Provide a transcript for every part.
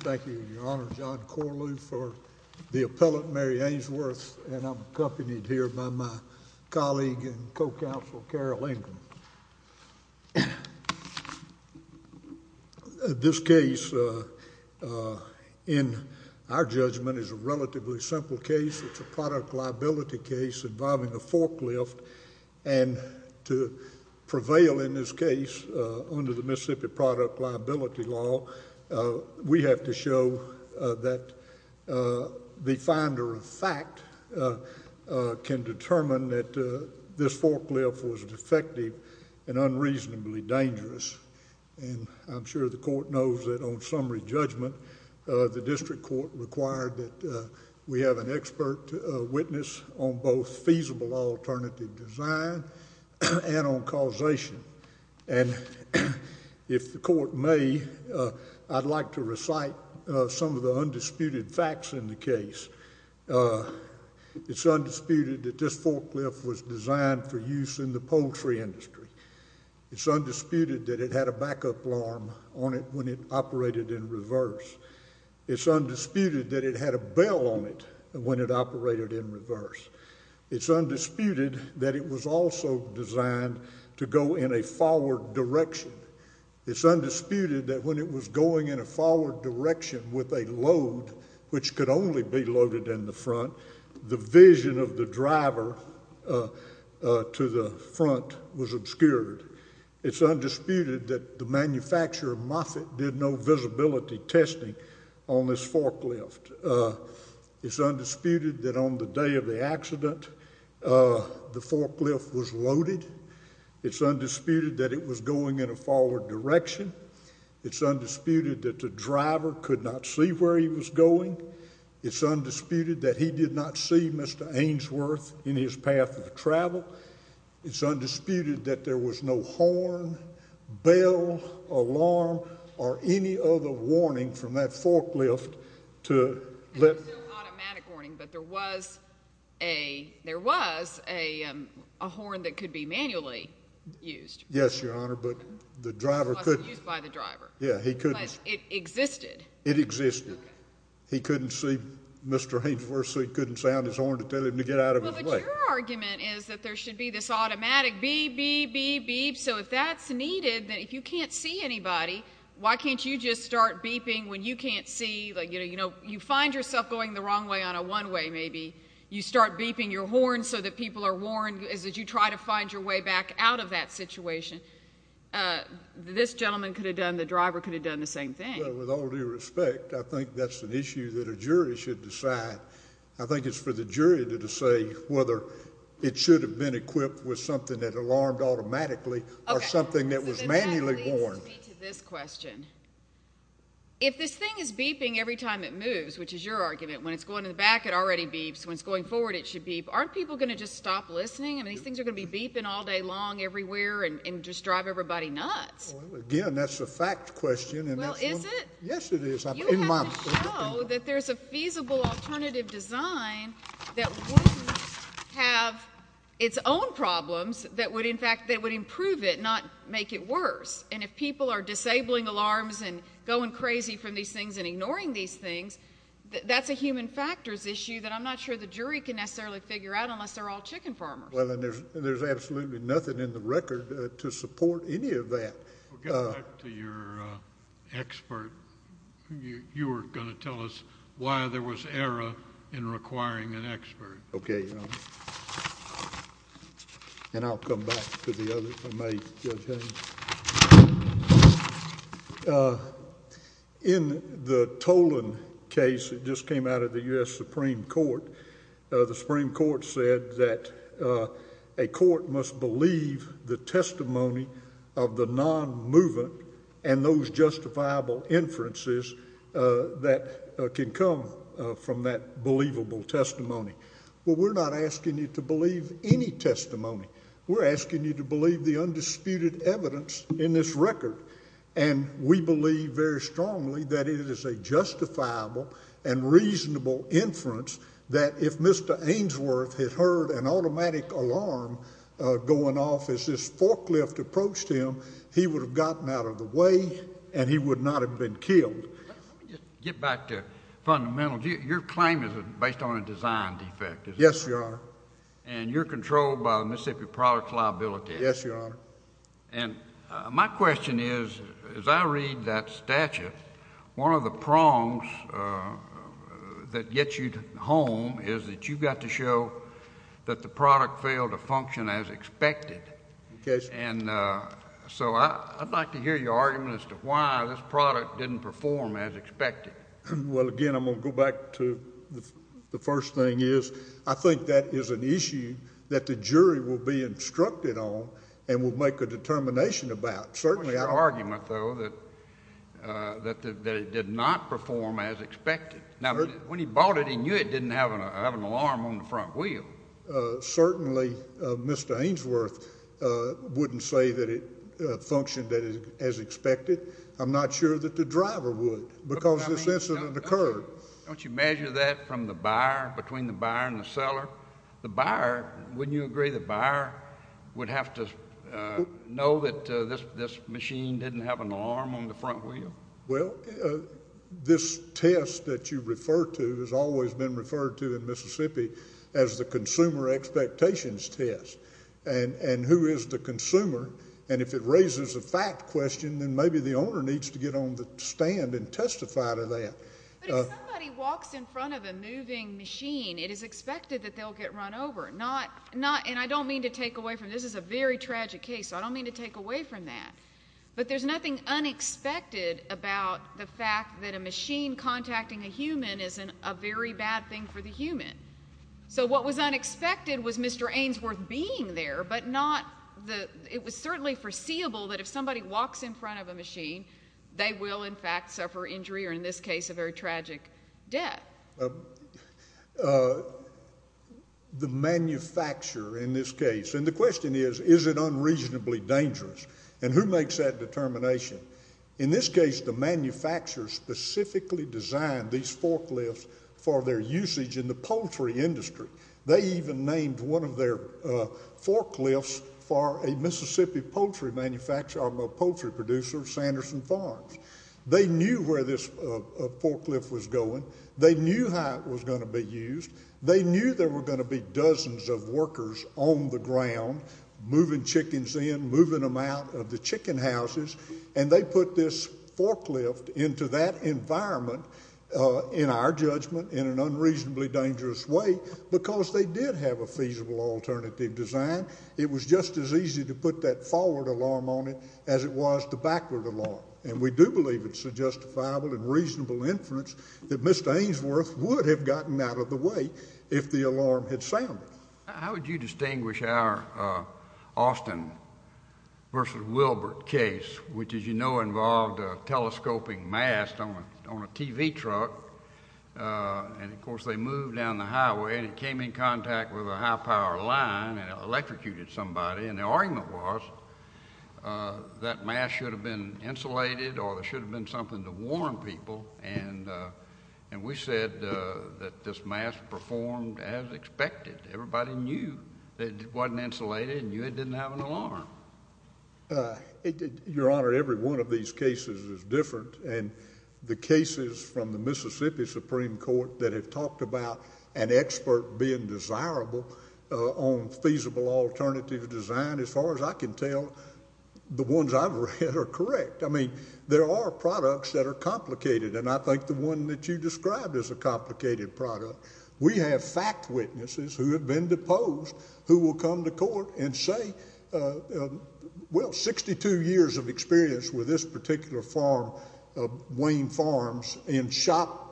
Thank you, Your Honor. John Corlew for the appellate, Mary Ainsworth, and I'm accompanied here by my colleague and co-counsel, Carol Ingram. This case, in our judgment, is a relatively simple case. It's a product liability case involving a forklift, and to prevail in this case under the Mississippi product liability law, we have to show that the finder of fact can determine that this forklift was defective and unreasonably dangerous. I'm sure the court knows that on summary judgment, the district court required that we have an expert witness on both feasible alternative design and on causation, and if the court may, I'd like to recite some of the undisputed facts in the case. It's undisputed that this forklift was designed for use in the poultry industry. It's undisputed that it had a backup alarm on it when it operated in reverse. It's undisputed that it had a bell on it when it operated in reverse. It's undisputed that it was also designed to go in a forward direction. It's undisputed that when it was going in a forward direction with a load, which could only be loaded in the front, the vision of the driver to the front was obscured. It's undisputed that the manufacturer, Moffett, did no visibility testing on this forklift. It's undisputed that on the day of the accident, the forklift was loaded. It's undisputed that it was going in a forward direction. It's undisputed that the driver could not see where he was going. It's undisputed that he did not see Mr. Ainsworth in his path of travel. It's undisputed that there was no horn, bell, alarm, or any other warning from that forklift to let— There was no automatic warning, but there was a horn that could be manually used. Yes, Your Honor, but the driver couldn't— It wasn't used by the driver. Yeah, he couldn't— But it existed. It existed. He couldn't see Mr. Ainsworth, so he couldn't sound his horn to tell him to get out of his way. Well, but your argument is that there should be this automatic beep, beep, beep, beep, so if that's needed, then if you can't see anybody, why can't you just start beeping when you can't see? You know, you find yourself going the wrong way on a one-way maybe. You start beeping your horn so that people are warned as you try to find your way back out of that situation. This gentleman could have done—the driver could have done the same thing. Well, with all due respect, I think that's an issue that a jury should decide. I think it's for the jury to say whether it should have been equipped with something that alarmed automatically or something that was manually warned. Okay, so then that leads me to this question. If this thing is beeping every time it moves, which is your argument, when it's going to the back, it already beeps. When it's going forward, it should beep. Aren't people going to just stop listening? I mean, these things are going to be beeping all day long everywhere and just drive everybody nuts. Well, again, that's a fact question, and that's— Well, is it? Yes, it is. You have to show that there's a feasible alternative design that wouldn't have its own problems that would, in fact, that would improve it, not make it worse. And if people are disabling alarms and going crazy from these things and ignoring these things, that's a human factors issue that I'm not sure the jury can necessarily figure out unless they're all chicken farmers. Well, and there's absolutely nothing in the record to support any of that. We'll get back to your expert. You were going to tell us why there was error in requiring an expert. Okay, Your Honor. And I'll come back to the other, if I may, Judge Haynes. In the Tolan case that just came out of the U.S. Supreme Court, the Supreme Court said that a court must believe the testimony of the non-movement and those justifiable inferences that can come from that believable testimony. Well, we're not asking you to believe any testimony. We're asking you to believe the undisputed evidence in this record, and we believe very strongly that it is a justifiable and reasonable inference that if Mr. Ainsworth had heard an automatic alarm going off as this forklift approached him, he would have gotten out of the way and he would not have been killed. Let me just get back to fundamentals. Your claim is based on a design defect, is it not? Yes, Your Honor. And you're controlled by the Mississippi Product Liability Act. Yes, Your Honor. And my question is, as I read that statute, one of the prongs that gets you home is that you've got to show that the product failed to function as expected. Yes, Your Honor. And so I'd like to hear your argument as to why this product didn't perform as expected. Well, again, I'm going to go back to the first thing is I think that is an issue that the jury will be instructed on and will make a determination about. What's your argument, though, that it did not perform as expected? Now, when he bought it, he knew it didn't have an alarm on the front wheel. Certainly, Mr. Ainsworth wouldn't say that it functioned as expected. I'm not sure that the driver would because the sense of it occurred. Don't you measure that from the buyer, between the buyer and the seller? The buyer, wouldn't you agree the buyer would have to know that this machine didn't have an alarm on the front wheel? Well, this test that you refer to has always been referred to in Mississippi as the consumer expectations test. And who is the consumer? And if it raises a fact question, then maybe the owner needs to get on the stand and testify to that. But if somebody walks in front of a moving machine, it is expected that they'll get run over. And I don't mean to take away from this. This is a very tragic case, so I don't mean to take away from that. But there's nothing unexpected about the fact that a machine contacting a human is a very bad thing for the human. So what was unexpected was Mr. Ainsworth being there, but it was certainly foreseeable that if somebody walks in front of a machine, they will, in fact, suffer injury or, in this case, a very tragic death. The manufacturer in this case. And the question is, is it unreasonably dangerous? And who makes that determination? In this case, the manufacturer specifically designed these forklifts for their usage in the poultry industry. They even named one of their forklifts for a Mississippi poultry manufacturer, a poultry producer, Sanderson Farms. They knew where this forklift was going. They knew how it was going to be used. They knew there were going to be dozens of workers on the ground moving chickens in, moving them out of the chicken houses, and they put this forklift into that environment, in our judgment, in an unreasonably dangerous way because they did have a feasible alternative design. It was just as easy to put that forward alarm on it as it was the backward alarm. And we do believe it's a justifiable and reasonable inference that Mr. Ainsworth would have gotten out of the way if the alarm had sounded. How would you distinguish our Austin versus Wilbert case, which, as you know, involved a telescoping mast on a TV truck? And, of course, they moved down the highway, and it came in contact with a high-power line and it electrocuted somebody. And the argument was that mast should have been insulated or there should have been something to warn people. And we said that this mast performed as expected. Everybody knew that it wasn't insulated and knew it didn't have an alarm. Your Honor, every one of these cases is different, and the cases from the Mississippi Supreme Court that have talked about an expert being desirable on feasible alternative design, as far as I can tell, the ones I've read are correct. I mean, there are products that are complicated, and I think the one that you described is a complicated product. We have fact witnesses who have been deposed who will come to court and say, well, 62 years of experience with this particular farm, Wayne Farms, and shop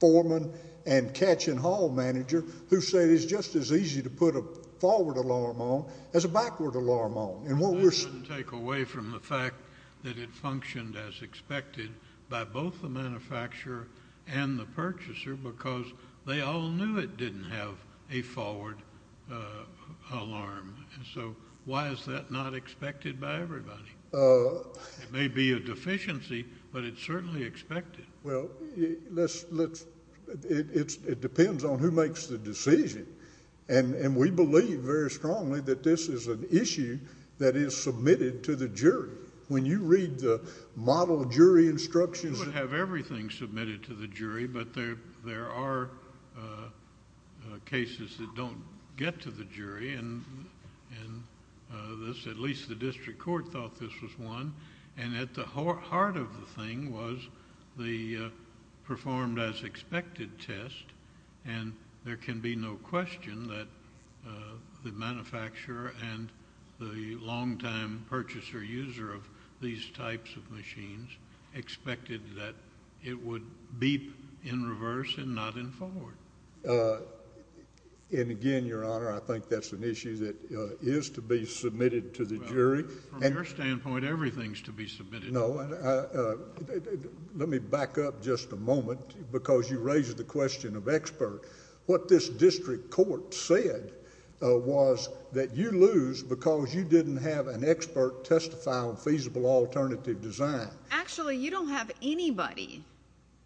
foreman and catch-and-haul manager who say it's just as easy to put a forward alarm on as a backward alarm on. Well, that doesn't take away from the fact that it functioned as expected by both the manufacturer and the purchaser because they all knew it didn't have a forward alarm. So why is that not expected by everybody? It may be a deficiency, but it's certainly expected. Well, it depends on who makes the decision. And we believe very strongly that this is an issue that is submitted to the jury. When you read the model jury instructions... We would have everything submitted to the jury, but there are cases that don't get to the jury, and at least the district court thought this was one. And at the heart of the thing was the performed-as-expected test, and there can be no question that the manufacturer and the longtime purchaser-user of these types of machines expected that it would beep in reverse and not in forward. And again, Your Honor, I think that's an issue that is to be submitted to the jury. Well, from your standpoint, everything is to be submitted to the jury. No. Let me back up just a moment because you raised the question of expert. What this district court said was that you lose because you didn't have an expert testify on feasible alternative design. Actually, you don't have anybody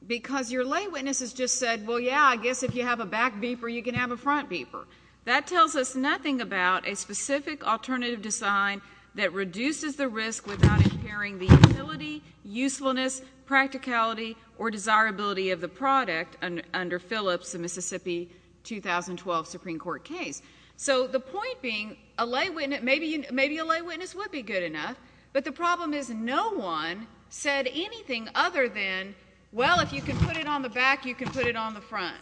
because your lay witness has just said, well, yeah, I guess if you have a back beeper, you can have a front beeper. That tells us nothing about a specific alternative design that reduces the risk without impairing the utility, usefulness, practicality, or desirability of the product under Phillips, the Mississippi 2012 Supreme Court case. So the point being, maybe a lay witness would be good enough, but the problem is no one said anything other than, well, if you can put it on the back, you can put it on the front.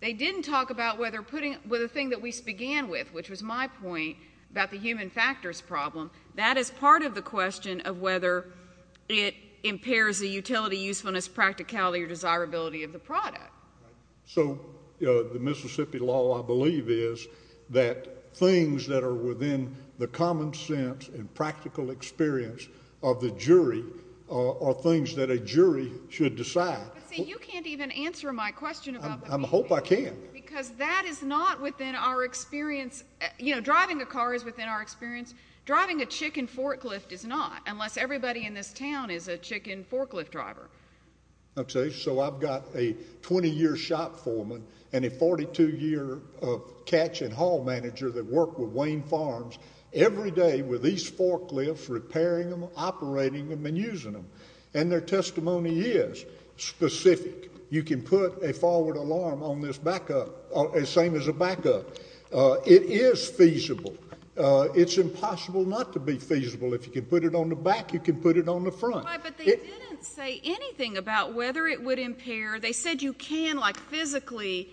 They didn't talk about whether the thing that we began with, which was my point about the human factors problem, that is part of the question of whether it impairs the utility, usefulness, practicality, or desirability of the product. So the Mississippi law, I believe, is that things that are within the common sense and practical experience of the jury are things that a jury should decide. But, see, you can't even answer my question about that. I hope I can. Because that is not within our experience. You know, driving a car is within our experience. Driving a chicken forklift is not, unless everybody in this town is a chicken forklift driver. Okay, so I've got a 20-year shop foreman and a 42-year catch and haul manager that work with Wayne Farms every day with these forklifts, repairing them, operating them, and using them. And their testimony is specific. You can put a forward alarm on this backup, same as a backup. It is feasible. It's impossible not to be feasible. If you can put it on the back, you can put it on the front. But they didn't say anything about whether it would impair. They said you can, like, physically.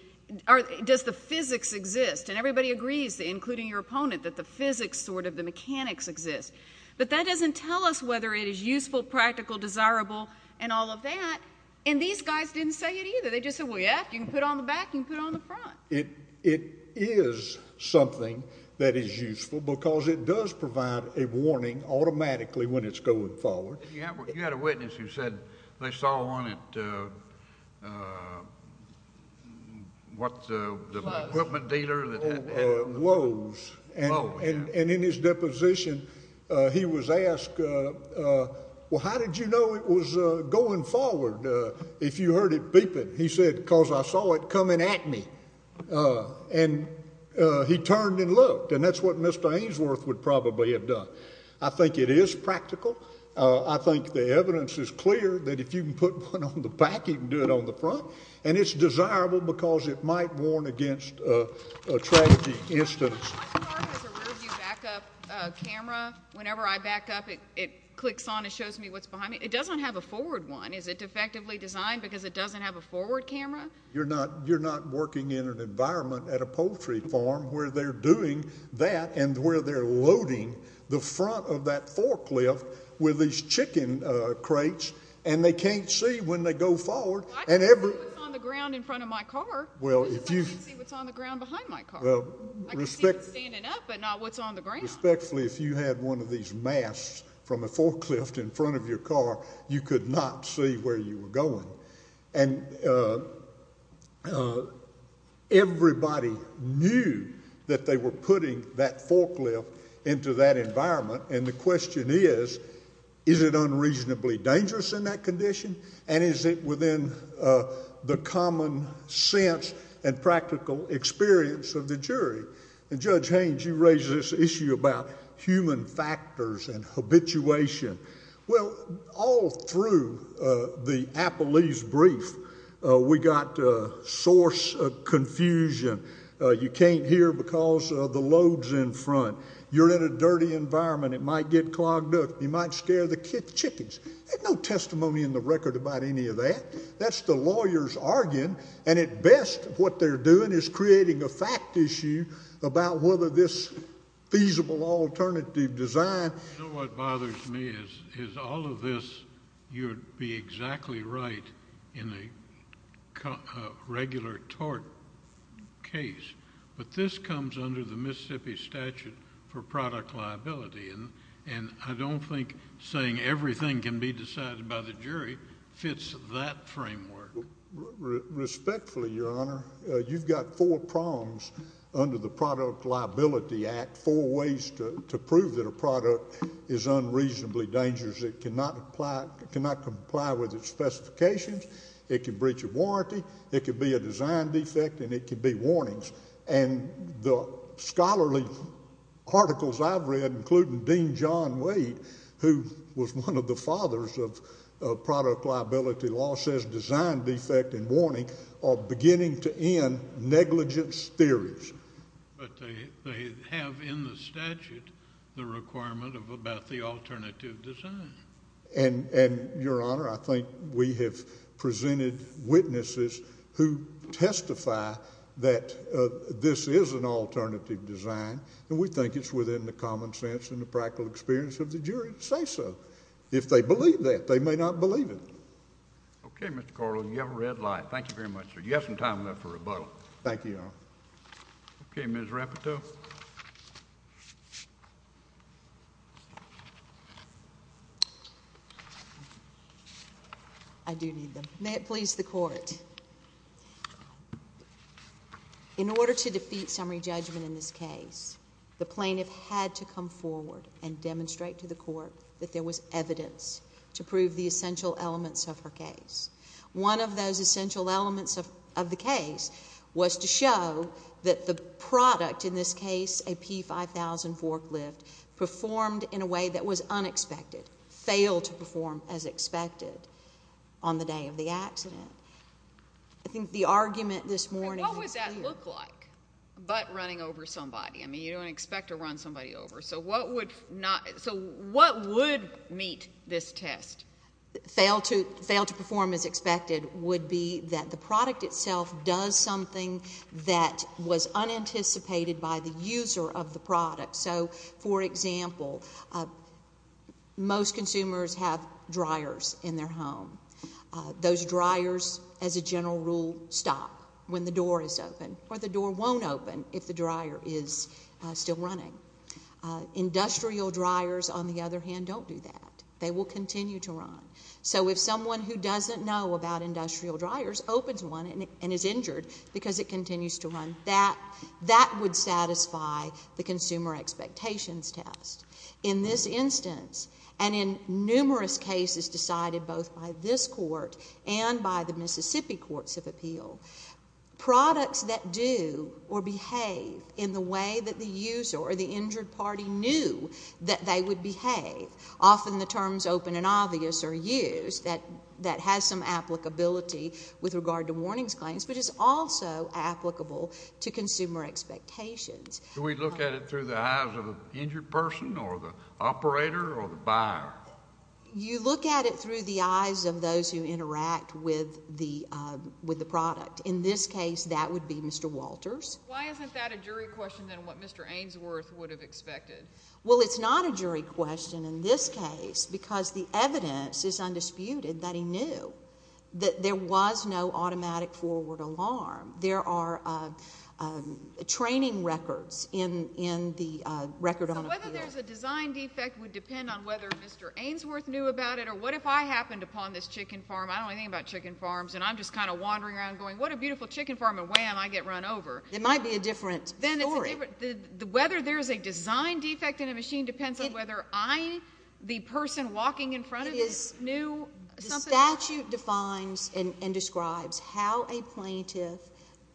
Does the physics exist? And everybody agrees, including your opponent, that the physics sort of the mechanics exist. But that doesn't tell us whether it is useful, practical, desirable, and all of that. And these guys didn't say it either. They just said, well, yeah, you can put it on the back, you can put it on the front. It is something that is useful because it does provide a warning automatically when it's going forward. You had a witness who said they saw on it what the equipment dealer that had it. Woes. And in his deposition, he was asked, well, how did you know it was going forward if you heard it beeping? He said, because I saw it coming at me. And he turned and looked. And that's what Mr. Ainsworth would probably have done. I think it is practical. I think the evidence is clear that if you can put one on the back, you can do it on the front. And it's desirable because it might warn against a tragedy instance. My car has a rear-view backup camera. Whenever I back up, it clicks on and shows me what's behind me. It doesn't have a forward one. Is it defectively designed because it doesn't have a forward camera? You're not working in an environment at a poultry farm where they're doing that and where they're loading the front of that forklift with these chicken crates, and they can't see when they go forward. Well, I can see what's on the ground in front of my car. It's just I can't see what's on the ground behind my car. I can see what's standing up but not what's on the ground. Respectfully, if you had one of these masks from a forklift in front of your car, you could not see where you were going. And everybody knew that they were putting that forklift into that environment. And the question is, is it unreasonably dangerous in that condition? And is it within the common sense and practical experience of the jury? And Judge Haynes, you raise this issue about human factors and habituation. Well, all through the Apple Leafs brief, we got source of confusion. You can't hear because of the loads in front. You're in a dirty environment. It might get clogged up. You might scare the chickens. There's no testimony in the record about any of that. That's the lawyers arguing. And at best, what they're doing is creating a fact issue about whether this feasible alternative design. You know what bothers me is all of this, you'd be exactly right in a regular tort case. But this comes under the Mississippi statute for product liability. And I don't think saying everything can be decided by the jury fits that framework. Respectfully, Your Honor, you've got four prongs under the Product Liability Act, four ways to prove that a product is unreasonably dangerous. It cannot comply with its specifications. It could breach a warranty. It could be a design defect. And it could be warnings. And the scholarly articles I've read, including Dean John Wade, who was one of the fathers of product liability law, says design defect and warning are beginning to end negligence theories. But they have in the statute the requirement about the alternative design. And, Your Honor, I think we have presented witnesses who testify that this is an alternative design. And we think it's within the common sense and the practical experience of the jury to say so. If they believe that, they may not believe it. Okay, Mr. Corley. You have a red light. Thank you very much, sir. You have some time left for rebuttal. Thank you, Your Honor. Okay, Ms. Rapito. I do need them. May it please the Court. In order to defeat summary judgment in this case, the plaintiff had to come forward and demonstrate to the Court that there was evidence to prove the essential elements of her case. One of those essential elements of the case was to show that the product in this case, a P5000 forklift, performed in a way that was unexpected, failed to perform as expected on the day of the accident. I think the argument this morning was here. And what would that look like, butt running over somebody? I mean, you don't expect to run somebody over. So what would meet this test? Fail to perform as expected would be that the product itself does something that was unanticipated by the user of the product. So, for example, most consumers have dryers in their home. Those dryers, as a general rule, stop when the door is open, or the door won't open if the dryer is still running. Industrial dryers, on the other hand, don't do that. They will continue to run. So if someone who doesn't know about industrial dryers opens one and is injured because it continues to run, that would satisfy the consumer expectations test. In this instance, and in numerous cases decided both by this court and by the Mississippi Courts of Appeal, products that do or behave in the way that the user or the injured party knew that they would behave, often the terms open and obvious are used. That has some applicability with regard to warnings claims, but it's also applicable to consumer expectations. Do we look at it through the eyes of the injured person or the operator or the buyer? You look at it through the eyes of those who interact with the product. In this case, that would be Mr. Walters. Why isn't that a jury question than what Mr. Ainsworth would have expected? Well, it's not a jury question in this case because the evidence is undisputed that he knew that there was no automatic forward alarm. There are training records in the record on appeal. So whether there's a design defect would depend on whether Mr. Ainsworth knew about it or what if I happened upon this chicken farm? I don't know anything about chicken farms, and I'm just kind of wandering around going, what a beautiful chicken farm, and wham, I get run over. It might be a different story. Whether there's a design defect in a machine depends on whether I, the person walking in front of it, knew something. The statute defines and describes how a plaintiff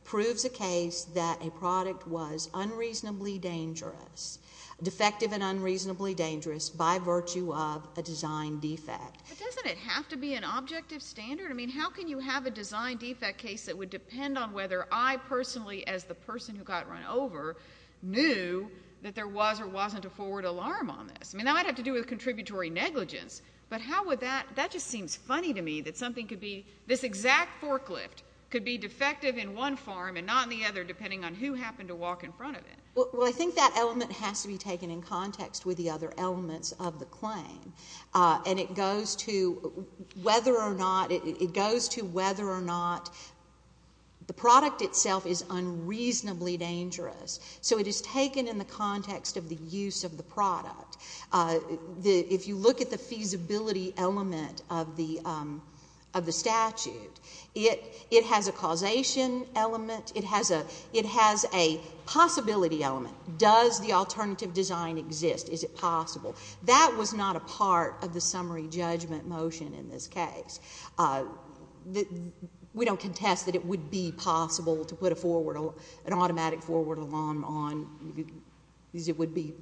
proves a case that a product was unreasonably dangerous, defective and unreasonably dangerous by virtue of a design defect. But doesn't it have to be an objective standard? I mean, how can you have a design defect case that would depend on whether I personally, as the person who got run over, knew that there was or wasn't a forward alarm on this? I mean, that might have to do with contributory negligence, but how would that, that just seems funny to me that something could be, this exact forklift could be defective in one farm and not in the other depending on who happened to walk in front of it. Well, I think that element has to be taken in context with the other elements of the claim, and it goes to whether or not, it goes to whether or not the product itself is unreasonably dangerous. So it is taken in the context of the use of the product. If you look at the feasibility element of the statute, it has a causation element, it has a possibility element. Does the alternative design exist? Is it possible? That was not a part of the summary judgment motion in this case. We don't contest that it would be possible to put a forward, an automatic forward alarm on, because it would be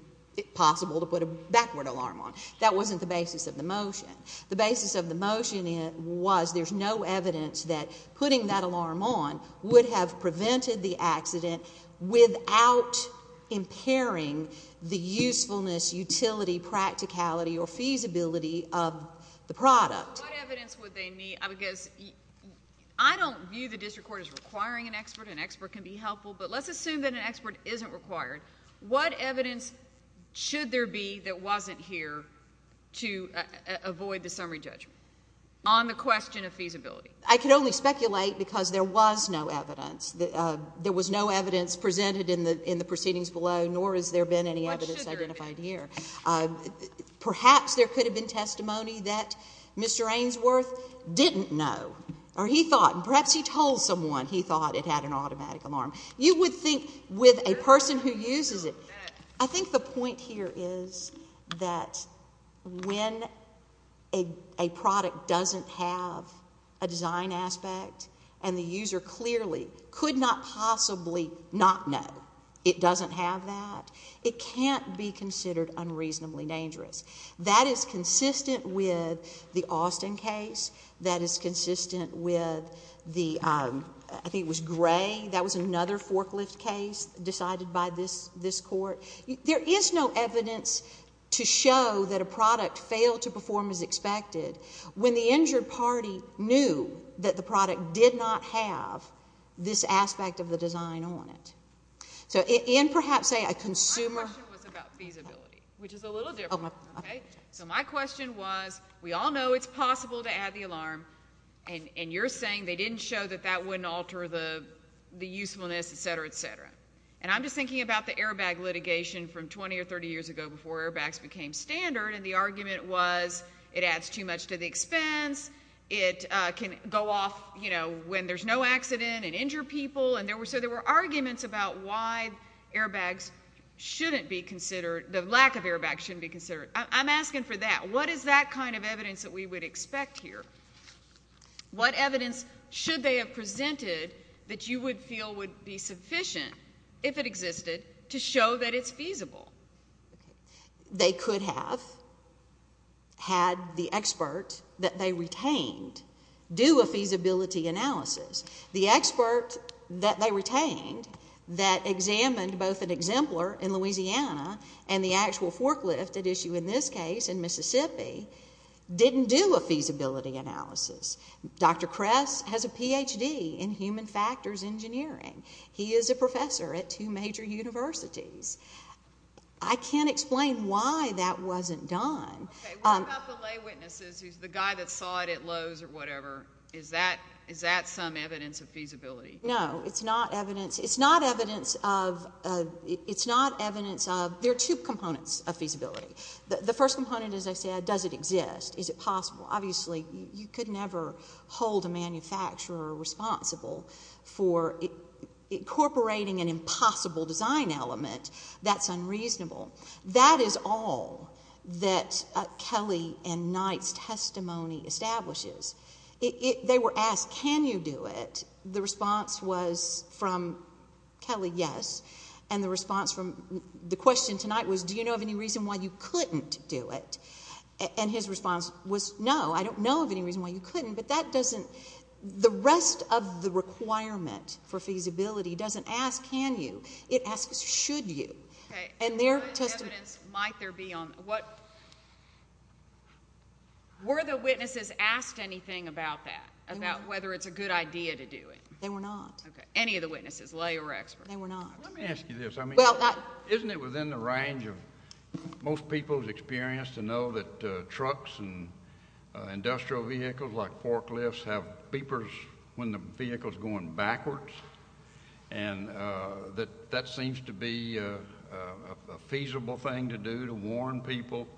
possible to put a backward alarm on. That wasn't the basis of the motion. The basis of the motion was there's no evidence that putting that alarm on would have prevented the accident without impairing the usefulness, utility, practicality, or feasibility of the product. What evidence would they need? Because I don't view the district court as requiring an expert. An expert can be helpful, but let's assume that an expert isn't required. What evidence should there be that wasn't here to avoid the summary judgment on the question of feasibility? I can only speculate because there was no evidence. There was no evidence presented in the proceedings below, nor has there been any evidence identified here. Perhaps there could have been testimony that Mr. Ainsworth didn't know, or he thought, and perhaps he told someone he thought it had an automatic alarm. You would think with a person who uses it. I think the point here is that when a product doesn't have a design aspect and the user clearly could not possibly not know it doesn't have that, it can't be considered unreasonably dangerous. That is consistent with the Austin case. That is consistent with the, I think it was Gray. That was another forklift case decided by this court. There is no evidence to show that a product failed to perform as expected when the injured party knew that the product did not have this aspect of the design on it. And perhaps, say, a consumer. My question was about feasibility, which is a little different. So my question was, we all know it's possible to add the alarm, and you're saying they didn't show that that wouldn't alter the usefulness, et cetera, et cetera. And I'm just thinking about the airbag litigation from 20 or 30 years ago before airbags became standard, and the argument was it adds too much to the expense. It can go off when there's no accident and injure people. So there were arguments about why the lack of airbags shouldn't be considered. I'm asking for that. And what is that kind of evidence that we would expect here? What evidence should they have presented that you would feel would be sufficient, if it existed, to show that it's feasible? They could have had the expert that they retained do a feasibility analysis. The expert that they retained that examined both an exemplar in Louisiana and the actual forklift at issue in this case in Mississippi didn't do a feasibility analysis. Dr. Kress has a Ph.D. in human factors engineering. He is a professor at two major universities. I can't explain why that wasn't done. Okay, what about the lay witnesses, the guy that saw it at Lowe's or whatever? Is that some evidence of feasibility? No, it's not evidence. It's not evidence of there are two components of feasibility. The first component, as I said, does it exist? Is it possible? Obviously, you could never hold a manufacturer responsible for incorporating an impossible design element. That's unreasonable. That is all that Kelly and Knight's testimony establishes. They were asked, can you do it? The response was from Kelly, yes, and the response from the question tonight was, do you know of any reason why you couldn't do it? And his response was, no, I don't know of any reason why you couldn't, but that doesn't the rest of the requirement for feasibility doesn't ask can you. It asks should you. Okay, so what evidence might there be on what? Were the witnesses asked anything about that, about whether it's a good idea to do it? They were not. Okay. Any of the witnesses, lay or expert? They were not. Let me ask you this. Isn't it within the range of most people's experience to know that trucks and industrial vehicles like forklifts have beepers when the vehicle is going backwards? And that that seems to be a feasible thing to do to warn people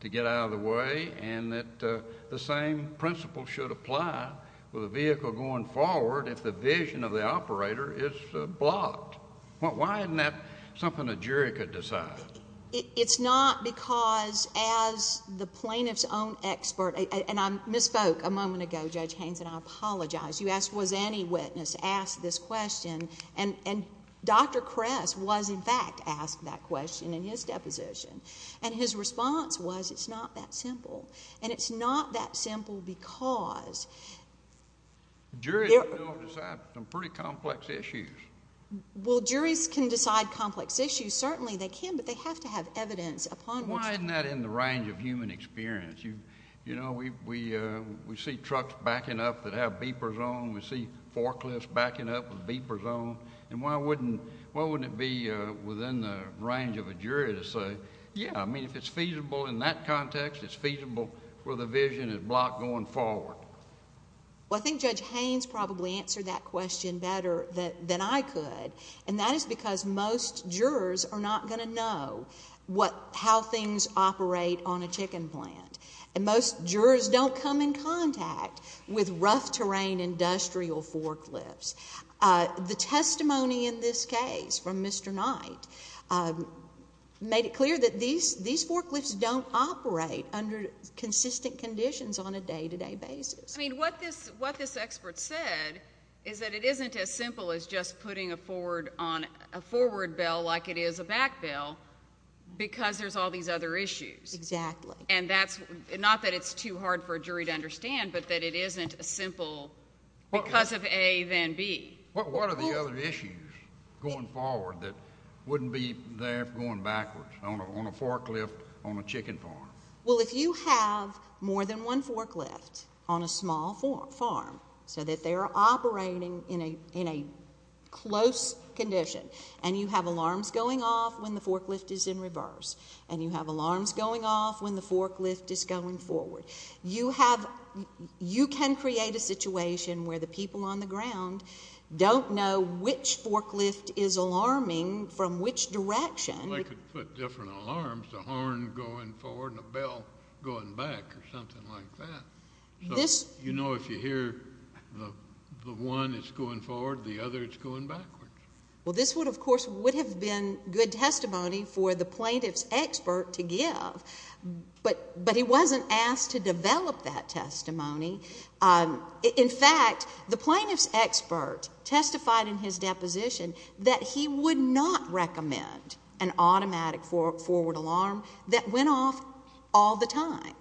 to get out of the way and that the same principle should apply with a vehicle going forward if the vision of the operator is blocked? Why isn't that something a jury could decide? It's not because as the plaintiff's own expert, and I misspoke a moment ago, Judge Haynes, and I apologize, you asked was any witness asked this question, and Dr. Kress was in fact asked that question in his deposition. And his response was it's not that simple. And it's not that simple because... Juries can decide some pretty complex issues. Well, juries can decide complex issues. Certainly they can, but they have to have evidence upon which... Why isn't that in the range of human experience? You know, we see trucks backing up that have beepers on. We see forklifts backing up with beepers on. And why wouldn't it be within the range of a jury to say, yeah, I mean if it's feasible in that context, it's feasible where the vision is blocked going forward? Well, I think Judge Haynes probably answered that question better than I could, and that is because most jurors are not going to know how things operate on a chicken plant. And most jurors don't come in contact with rough terrain industrial forklifts. The testimony in this case from Mr. Knight made it clear that these forklifts don't operate under consistent conditions on a day-to-day basis. I mean, what this expert said is that it isn't as simple as just putting a forward bell like it is a back bell because there's all these other issues. Exactly. And that's not that it's too hard for a jury to understand, but that it isn't as simple because of A than B. What are the other issues going forward that wouldn't be there going backwards on a forklift on a chicken farm? Well, if you have more than one forklift on a small farm so that they are operating in a close condition, and you have alarms going off when the forklift is in reverse, and you have alarms going off when the forklift is going forward, you can create a situation where the people on the ground don't know which forklift is alarming from which direction. Well, they could put different alarms, a horn going forward and a bell going back or something like that. So you know if you hear the one that's going forward, the other that's going backwards. Well, this would, of course, would have been good testimony for the plaintiff's expert to give, but he wasn't asked to develop that testimony. In fact, the plaintiff's expert testified in his deposition that he would not recommend an automatic forward alarm that went off all the time.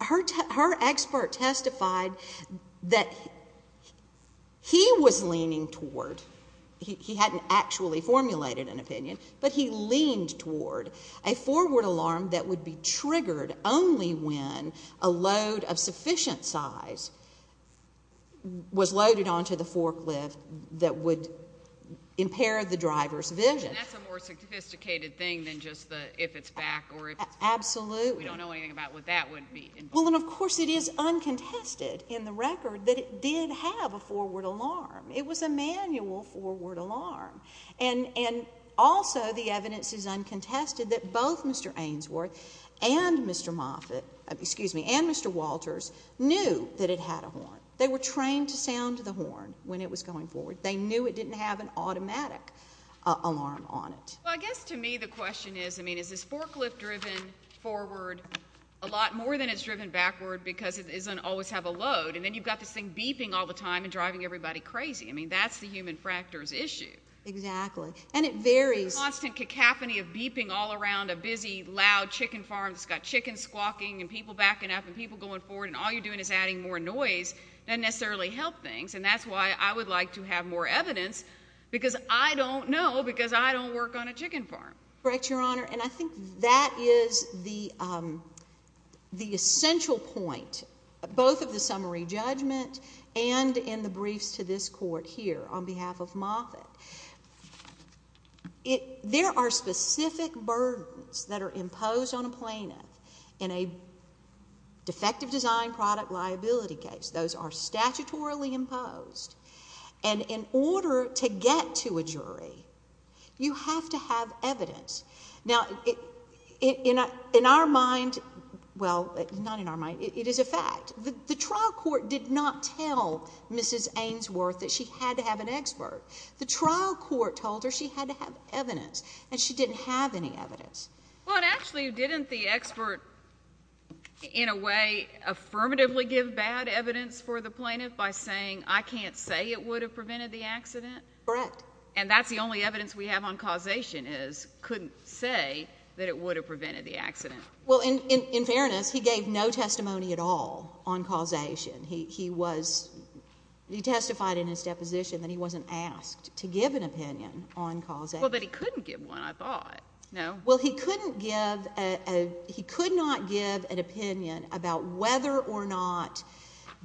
Her expert testified that he was leaning toward, he hadn't actually formulated an opinion, but he leaned toward a forward alarm that would be triggered only when a load of sufficient size was loaded onto the forklift that would impair the driver's vision. And that's a more sophisticated thing than just the if it's back or if it's forward. Absolutely. We don't know anything about what that would mean. Well, and of course it is uncontested in the record that it did have a forward alarm. It was a manual forward alarm. And also the evidence is uncontested that both Mr. Ainsworth and Mr. Moffitt, excuse me, and Mr. Walters knew that it had a horn. They were trained to sound the horn when it was going forward. They knew it didn't have an automatic alarm on it. Well, I guess to me the question is, I mean, is this forklift driven forward a lot more than it's driven backward because it doesn't always have a load? And then you've got this thing beeping all the time and driving everybody crazy. I mean, that's the human factor's issue. Exactly. And it varies. The constant cacophony of beeping all around a busy, loud chicken farm that's got chickens squawking and people backing up and people going forward and all you're doing is adding more noise doesn't necessarily help things. And that's why I would like to have more evidence because I don't know because I don't work on a chicken farm. Correct, Your Honor. And I think that is the essential point, both of the summary judgment and in the briefs to this court here on behalf of Moffitt. There are specific burdens that are imposed on a plaintiff in a defective design product liability case. Those are statutorily imposed. And in order to get to a jury, you have to have evidence. Now, in our mind, well, not in our mind, it is a fact. The trial court did not tell Mrs. Ainsworth that she had to have an expert. The trial court told her she had to have evidence, and she didn't have any evidence. Well, actually, didn't the expert in a way affirmatively give bad evidence for the plaintiff by saying, I can't say it would have prevented the accident? Correct. And that's the only evidence we have on causation is couldn't say that it would have prevented the accident. Well, in fairness, he gave no testimony at all on causation. He testified in his deposition that he wasn't asked to give an opinion on causation. Well, but he couldn't give one, I thought. No. Well, he could not give an opinion about whether or not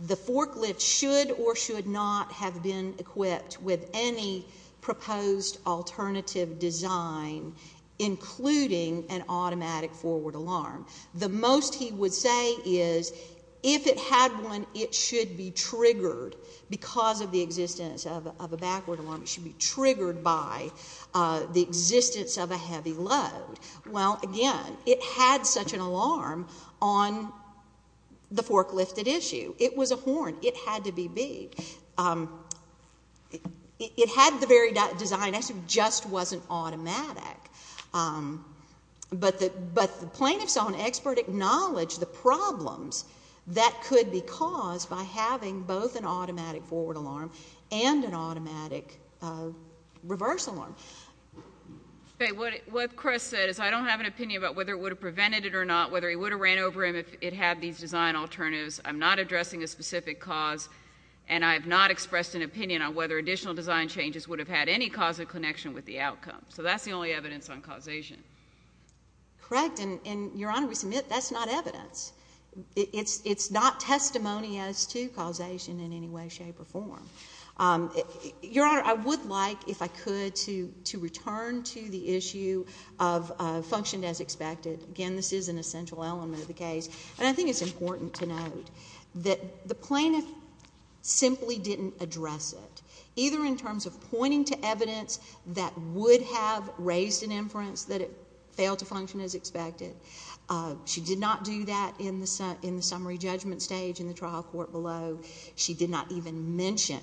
the forklift should or should not have been equipped with any proposed alternative design, including an automatic forward alarm. The most he would say is if it had one, it should be triggered because of the existence of a backward alarm. It should be triggered by the existence of a heavy load. Well, again, it had such an alarm on the forklift at issue. It was a horn. It had to be big. It had the very design. It just wasn't automatic. But the plaintiff saw an expert acknowledge the problems that could be caused by having both an automatic forward alarm and an automatic reverse alarm. What Chris said is I don't have an opinion about whether it would have prevented it or not, whether he would have ran over him if it had these design alternatives. I'm not addressing a specific cause, and I have not expressed an opinion on whether additional design changes would have had any causal connection with the outcome. So that's the only evidence on causation. Correct, and, Your Honor, we submit that's not evidence. It's not testimony as to causation in any way, shape, or form. Your Honor, I would like, if I could, to return to the issue of functioned as expected. Again, this is an essential element of the case, and I think it's important to note that the plaintiff simply didn't address it, either in terms of pointing to evidence that would have raised an inference that it failed to function as expected. She did not do that in the summary judgment stage in the trial court below. She did not even mention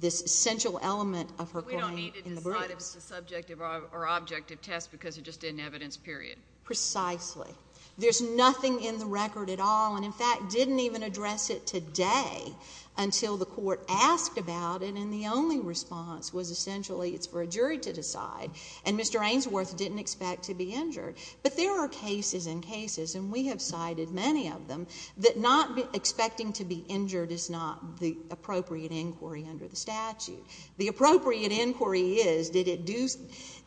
this essential element of her point in the brief. But we don't need to decide if it's a subjective or objective test because it just didn't evidence, period. Precisely. There's nothing in the record at all, and, in fact, didn't even address it today until the court asked about it, and the only response was essentially it's for a jury to decide, and Mr. Ainsworth didn't expect to be injured. But there are cases and cases, and we have cited many of them, that not expecting to be injured is not the appropriate inquiry under the statute. The appropriate inquiry is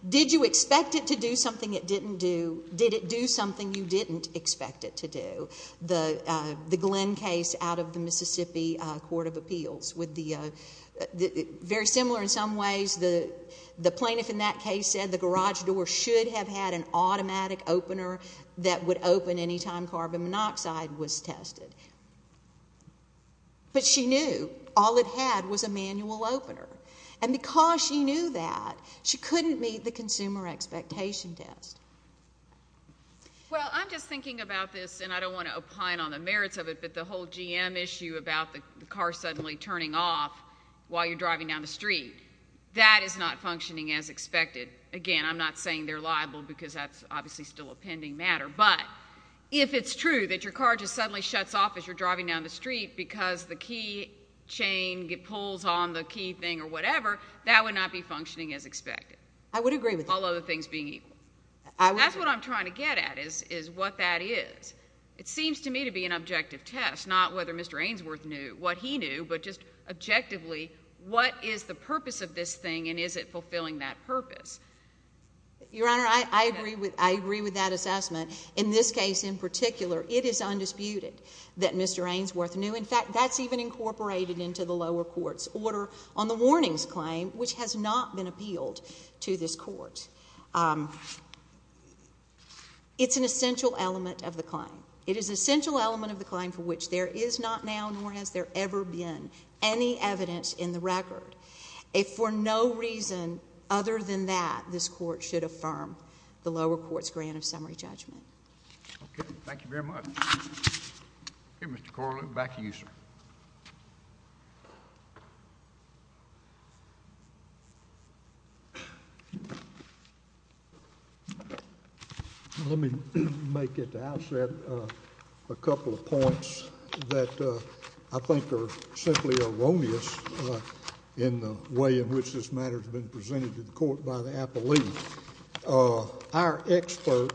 did you expect it to do something it didn't do? Did it do something you didn't expect it to do? The Glenn case out of the Mississippi Court of Appeals, very similar in some ways. The plaintiff in that case said the garage door should have had an automatic opener that would open any time carbon monoxide was tested. But she knew all it had was a manual opener, and because she knew that, she couldn't meet the consumer expectation test. Well, I'm just thinking about this, and I don't want to opine on the merits of it, but the whole GM issue about the car suddenly turning off while you're driving down the street, that is not functioning as expected. Again, I'm not saying they're liable because that's obviously still a pending matter, but if it's true that your car just suddenly shuts off as you're driving down the street because the key chain pulls on the key thing or whatever, that would not be functioning as expected. I would agree with you. All other things being equal. That's what I'm trying to get at is what that is. It seems to me to be an objective test, not whether Mr. Ainsworth knew what he knew, but just objectively, what is the purpose of this thing, and is it fulfilling that purpose? Your Honor, I agree with that assessment. In this case in particular, it is undisputed that Mr. Ainsworth knew. In fact, that's even incorporated into the lower court's order on the warnings claim, which has not been appealed to this court. It's an essential element of the claim. It is an essential element of the claim for which there is not now nor has there ever been any evidence in the record. For no reason other than that, this court should affirm the lower court's grant of summary judgment. Okay. Thank you very much. Mr. Corley, back to you, sir. Let me make at the outset a couple of points that I think are simply erroneous in the way in which this matter has been presented to the court by the appellee. Our expert,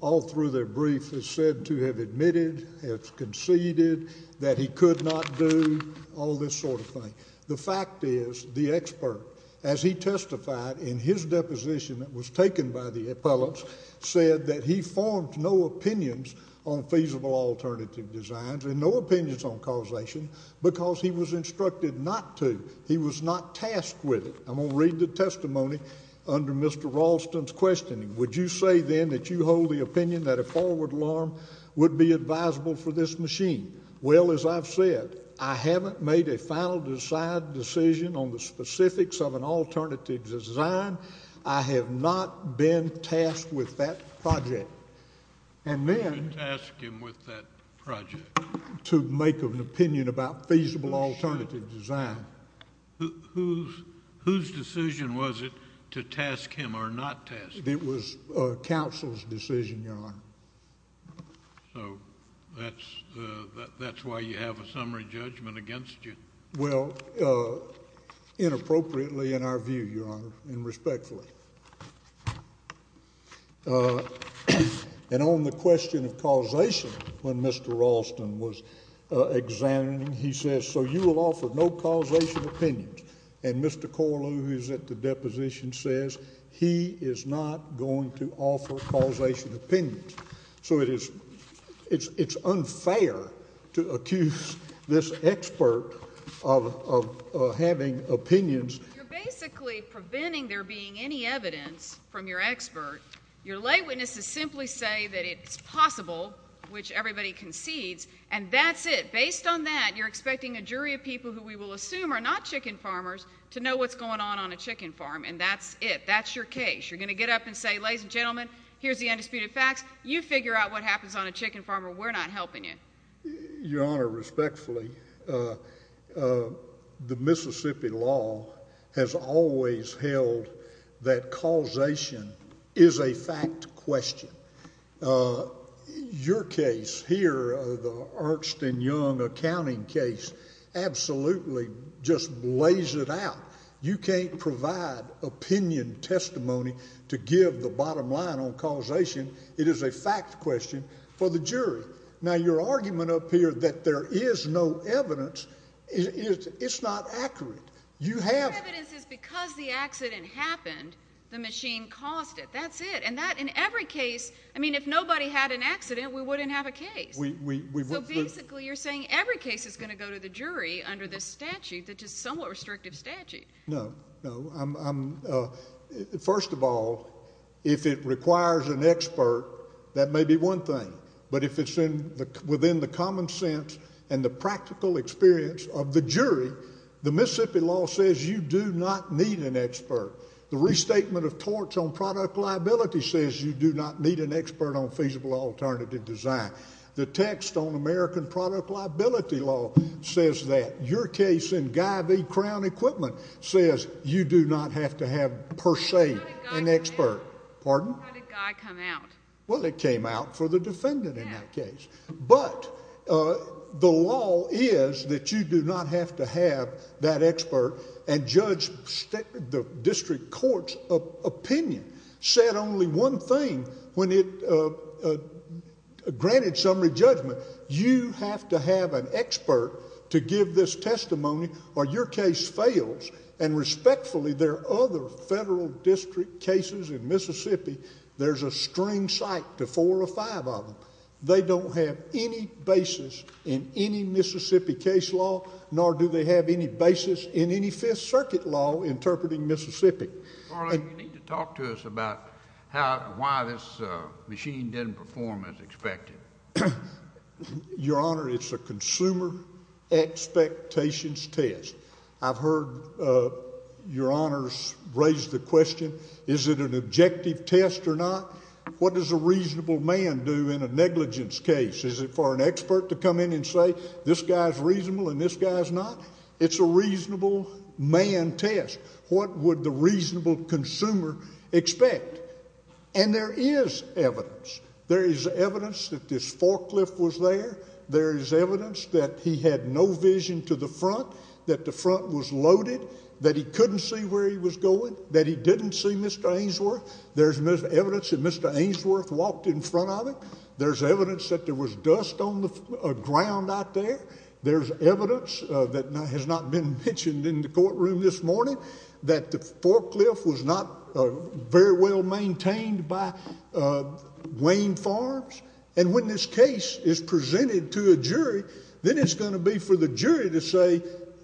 all through their brief, has said to have admitted, has conceded that he could not do, all this sort of thing. The fact is the expert, as he testified in his deposition that was taken by the appellants, said that he formed no opinions on feasible alternative designs and no opinions on causation because he was instructed not to. He was not tasked with it. I'm going to read the testimony under Mr. Raulston's questioning. Would you say then that you hold the opinion that a forward alarm would be advisable for this machine? Well, as I've said, I haven't made a final decision on the specifics of an alternative design. I have not been tasked with that project. I should task him with that project. To make an opinion about feasible alternative design. Whose decision was it to task him or not task him? It was counsel's decision, Your Honor. So that's why you have a summary judgment against you? Well, inappropriately in our view, Your Honor, and respectfully. And on the question of causation, when Mr. Raulston was examining, he says, so you will offer no causation opinions. And Mr. Corlew, who's at the deposition, says he is not going to offer causation opinions. So it's unfair to accuse this expert of having opinions. You're basically preventing there being any evidence from your expert. Your lay witnesses simply say that it's possible, which everybody concedes, and that's it. You're expecting a jury of people who we will assume are not chicken farmers to know what's going on on a chicken farm. And that's it. That's your case. You're going to get up and say, ladies and gentlemen, here's the undisputed facts. You figure out what happens on a chicken farm or we're not helping you. Your Honor, respectfully, the Mississippi law has always held that causation is a fact question. Your case here, the Arxton Young accounting case, absolutely just lays it out. You can't provide opinion testimony to give the bottom line on causation. It is a fact question for the jury. Now, your argument up here that there is no evidence, it's not accurate. Your evidence is because the accident happened, the machine caused it. That's it. And that, in every case, I mean, if nobody had an accident, we wouldn't have a case. So basically you're saying every case is going to go to the jury under this statute, which is a somewhat restrictive statute. No. First of all, if it requires an expert, that may be one thing. But if it's within the common sense and the practical experience of the jury, the Mississippi law says you do not need an expert. The restatement of torts on product liability says you do not need an expert on feasible alternative design. The text on American product liability law says that. Your case in Guy v. Crown Equipment says you do not have to have, per se, an expert. How did Guy come out? Well, it came out for the defendant in that case. But the law is that you do not have to have that expert and judge the district court's opinion. Said only one thing when it granted summary judgment. You have to have an expert to give this testimony or your case fails. And respectfully, there are other federal district cases in Mississippi, there's a string psych to four or five of them. They don't have any basis in any Mississippi case law, nor do they have any basis in any Fifth Circuit law interpreting Mississippi. Charlie, you need to talk to us about how and why this machine didn't perform as expected. Your Honor, it's a consumer expectations test. I've heard Your Honors raise the question, is it an objective test or not? What does a reasonable man do in a negligence case? Is it for an expert to come in and say this guy's reasonable and this guy's not? It's a reasonable man test. What would the reasonable consumer expect? And there is evidence. There is evidence that this forklift was there. There is evidence that he had no vision to the front, that the front was loaded, that he couldn't see where he was going, that he didn't see Mr. Ainsworth. There's evidence that Mr. Ainsworth walked in front of it. There's evidence that there was dust on the ground out there. There's evidence that has not been mentioned in the courtroom this morning, that the forklift was not very well maintained by Wayne Farms. And when this case is presented to a jury, then it's going to be for the jury to say,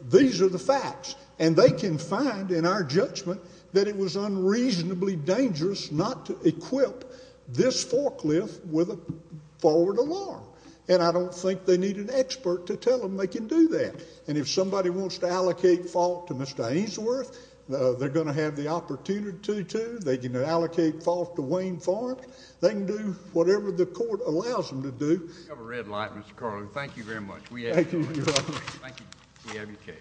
these are the facts. And they can find in our judgment that it was unreasonably dangerous not to equip this forklift with a forward alarm. And I don't think they need an expert to tell them they can do that. And if somebody wants to allocate fault to Mr. Ainsworth, they're going to have the opportunity to. They can allocate fault to Wayne Farms. They can do whatever the court allows them to do. You have a red light, Mr. Carlin. Thank you very much. We have your case.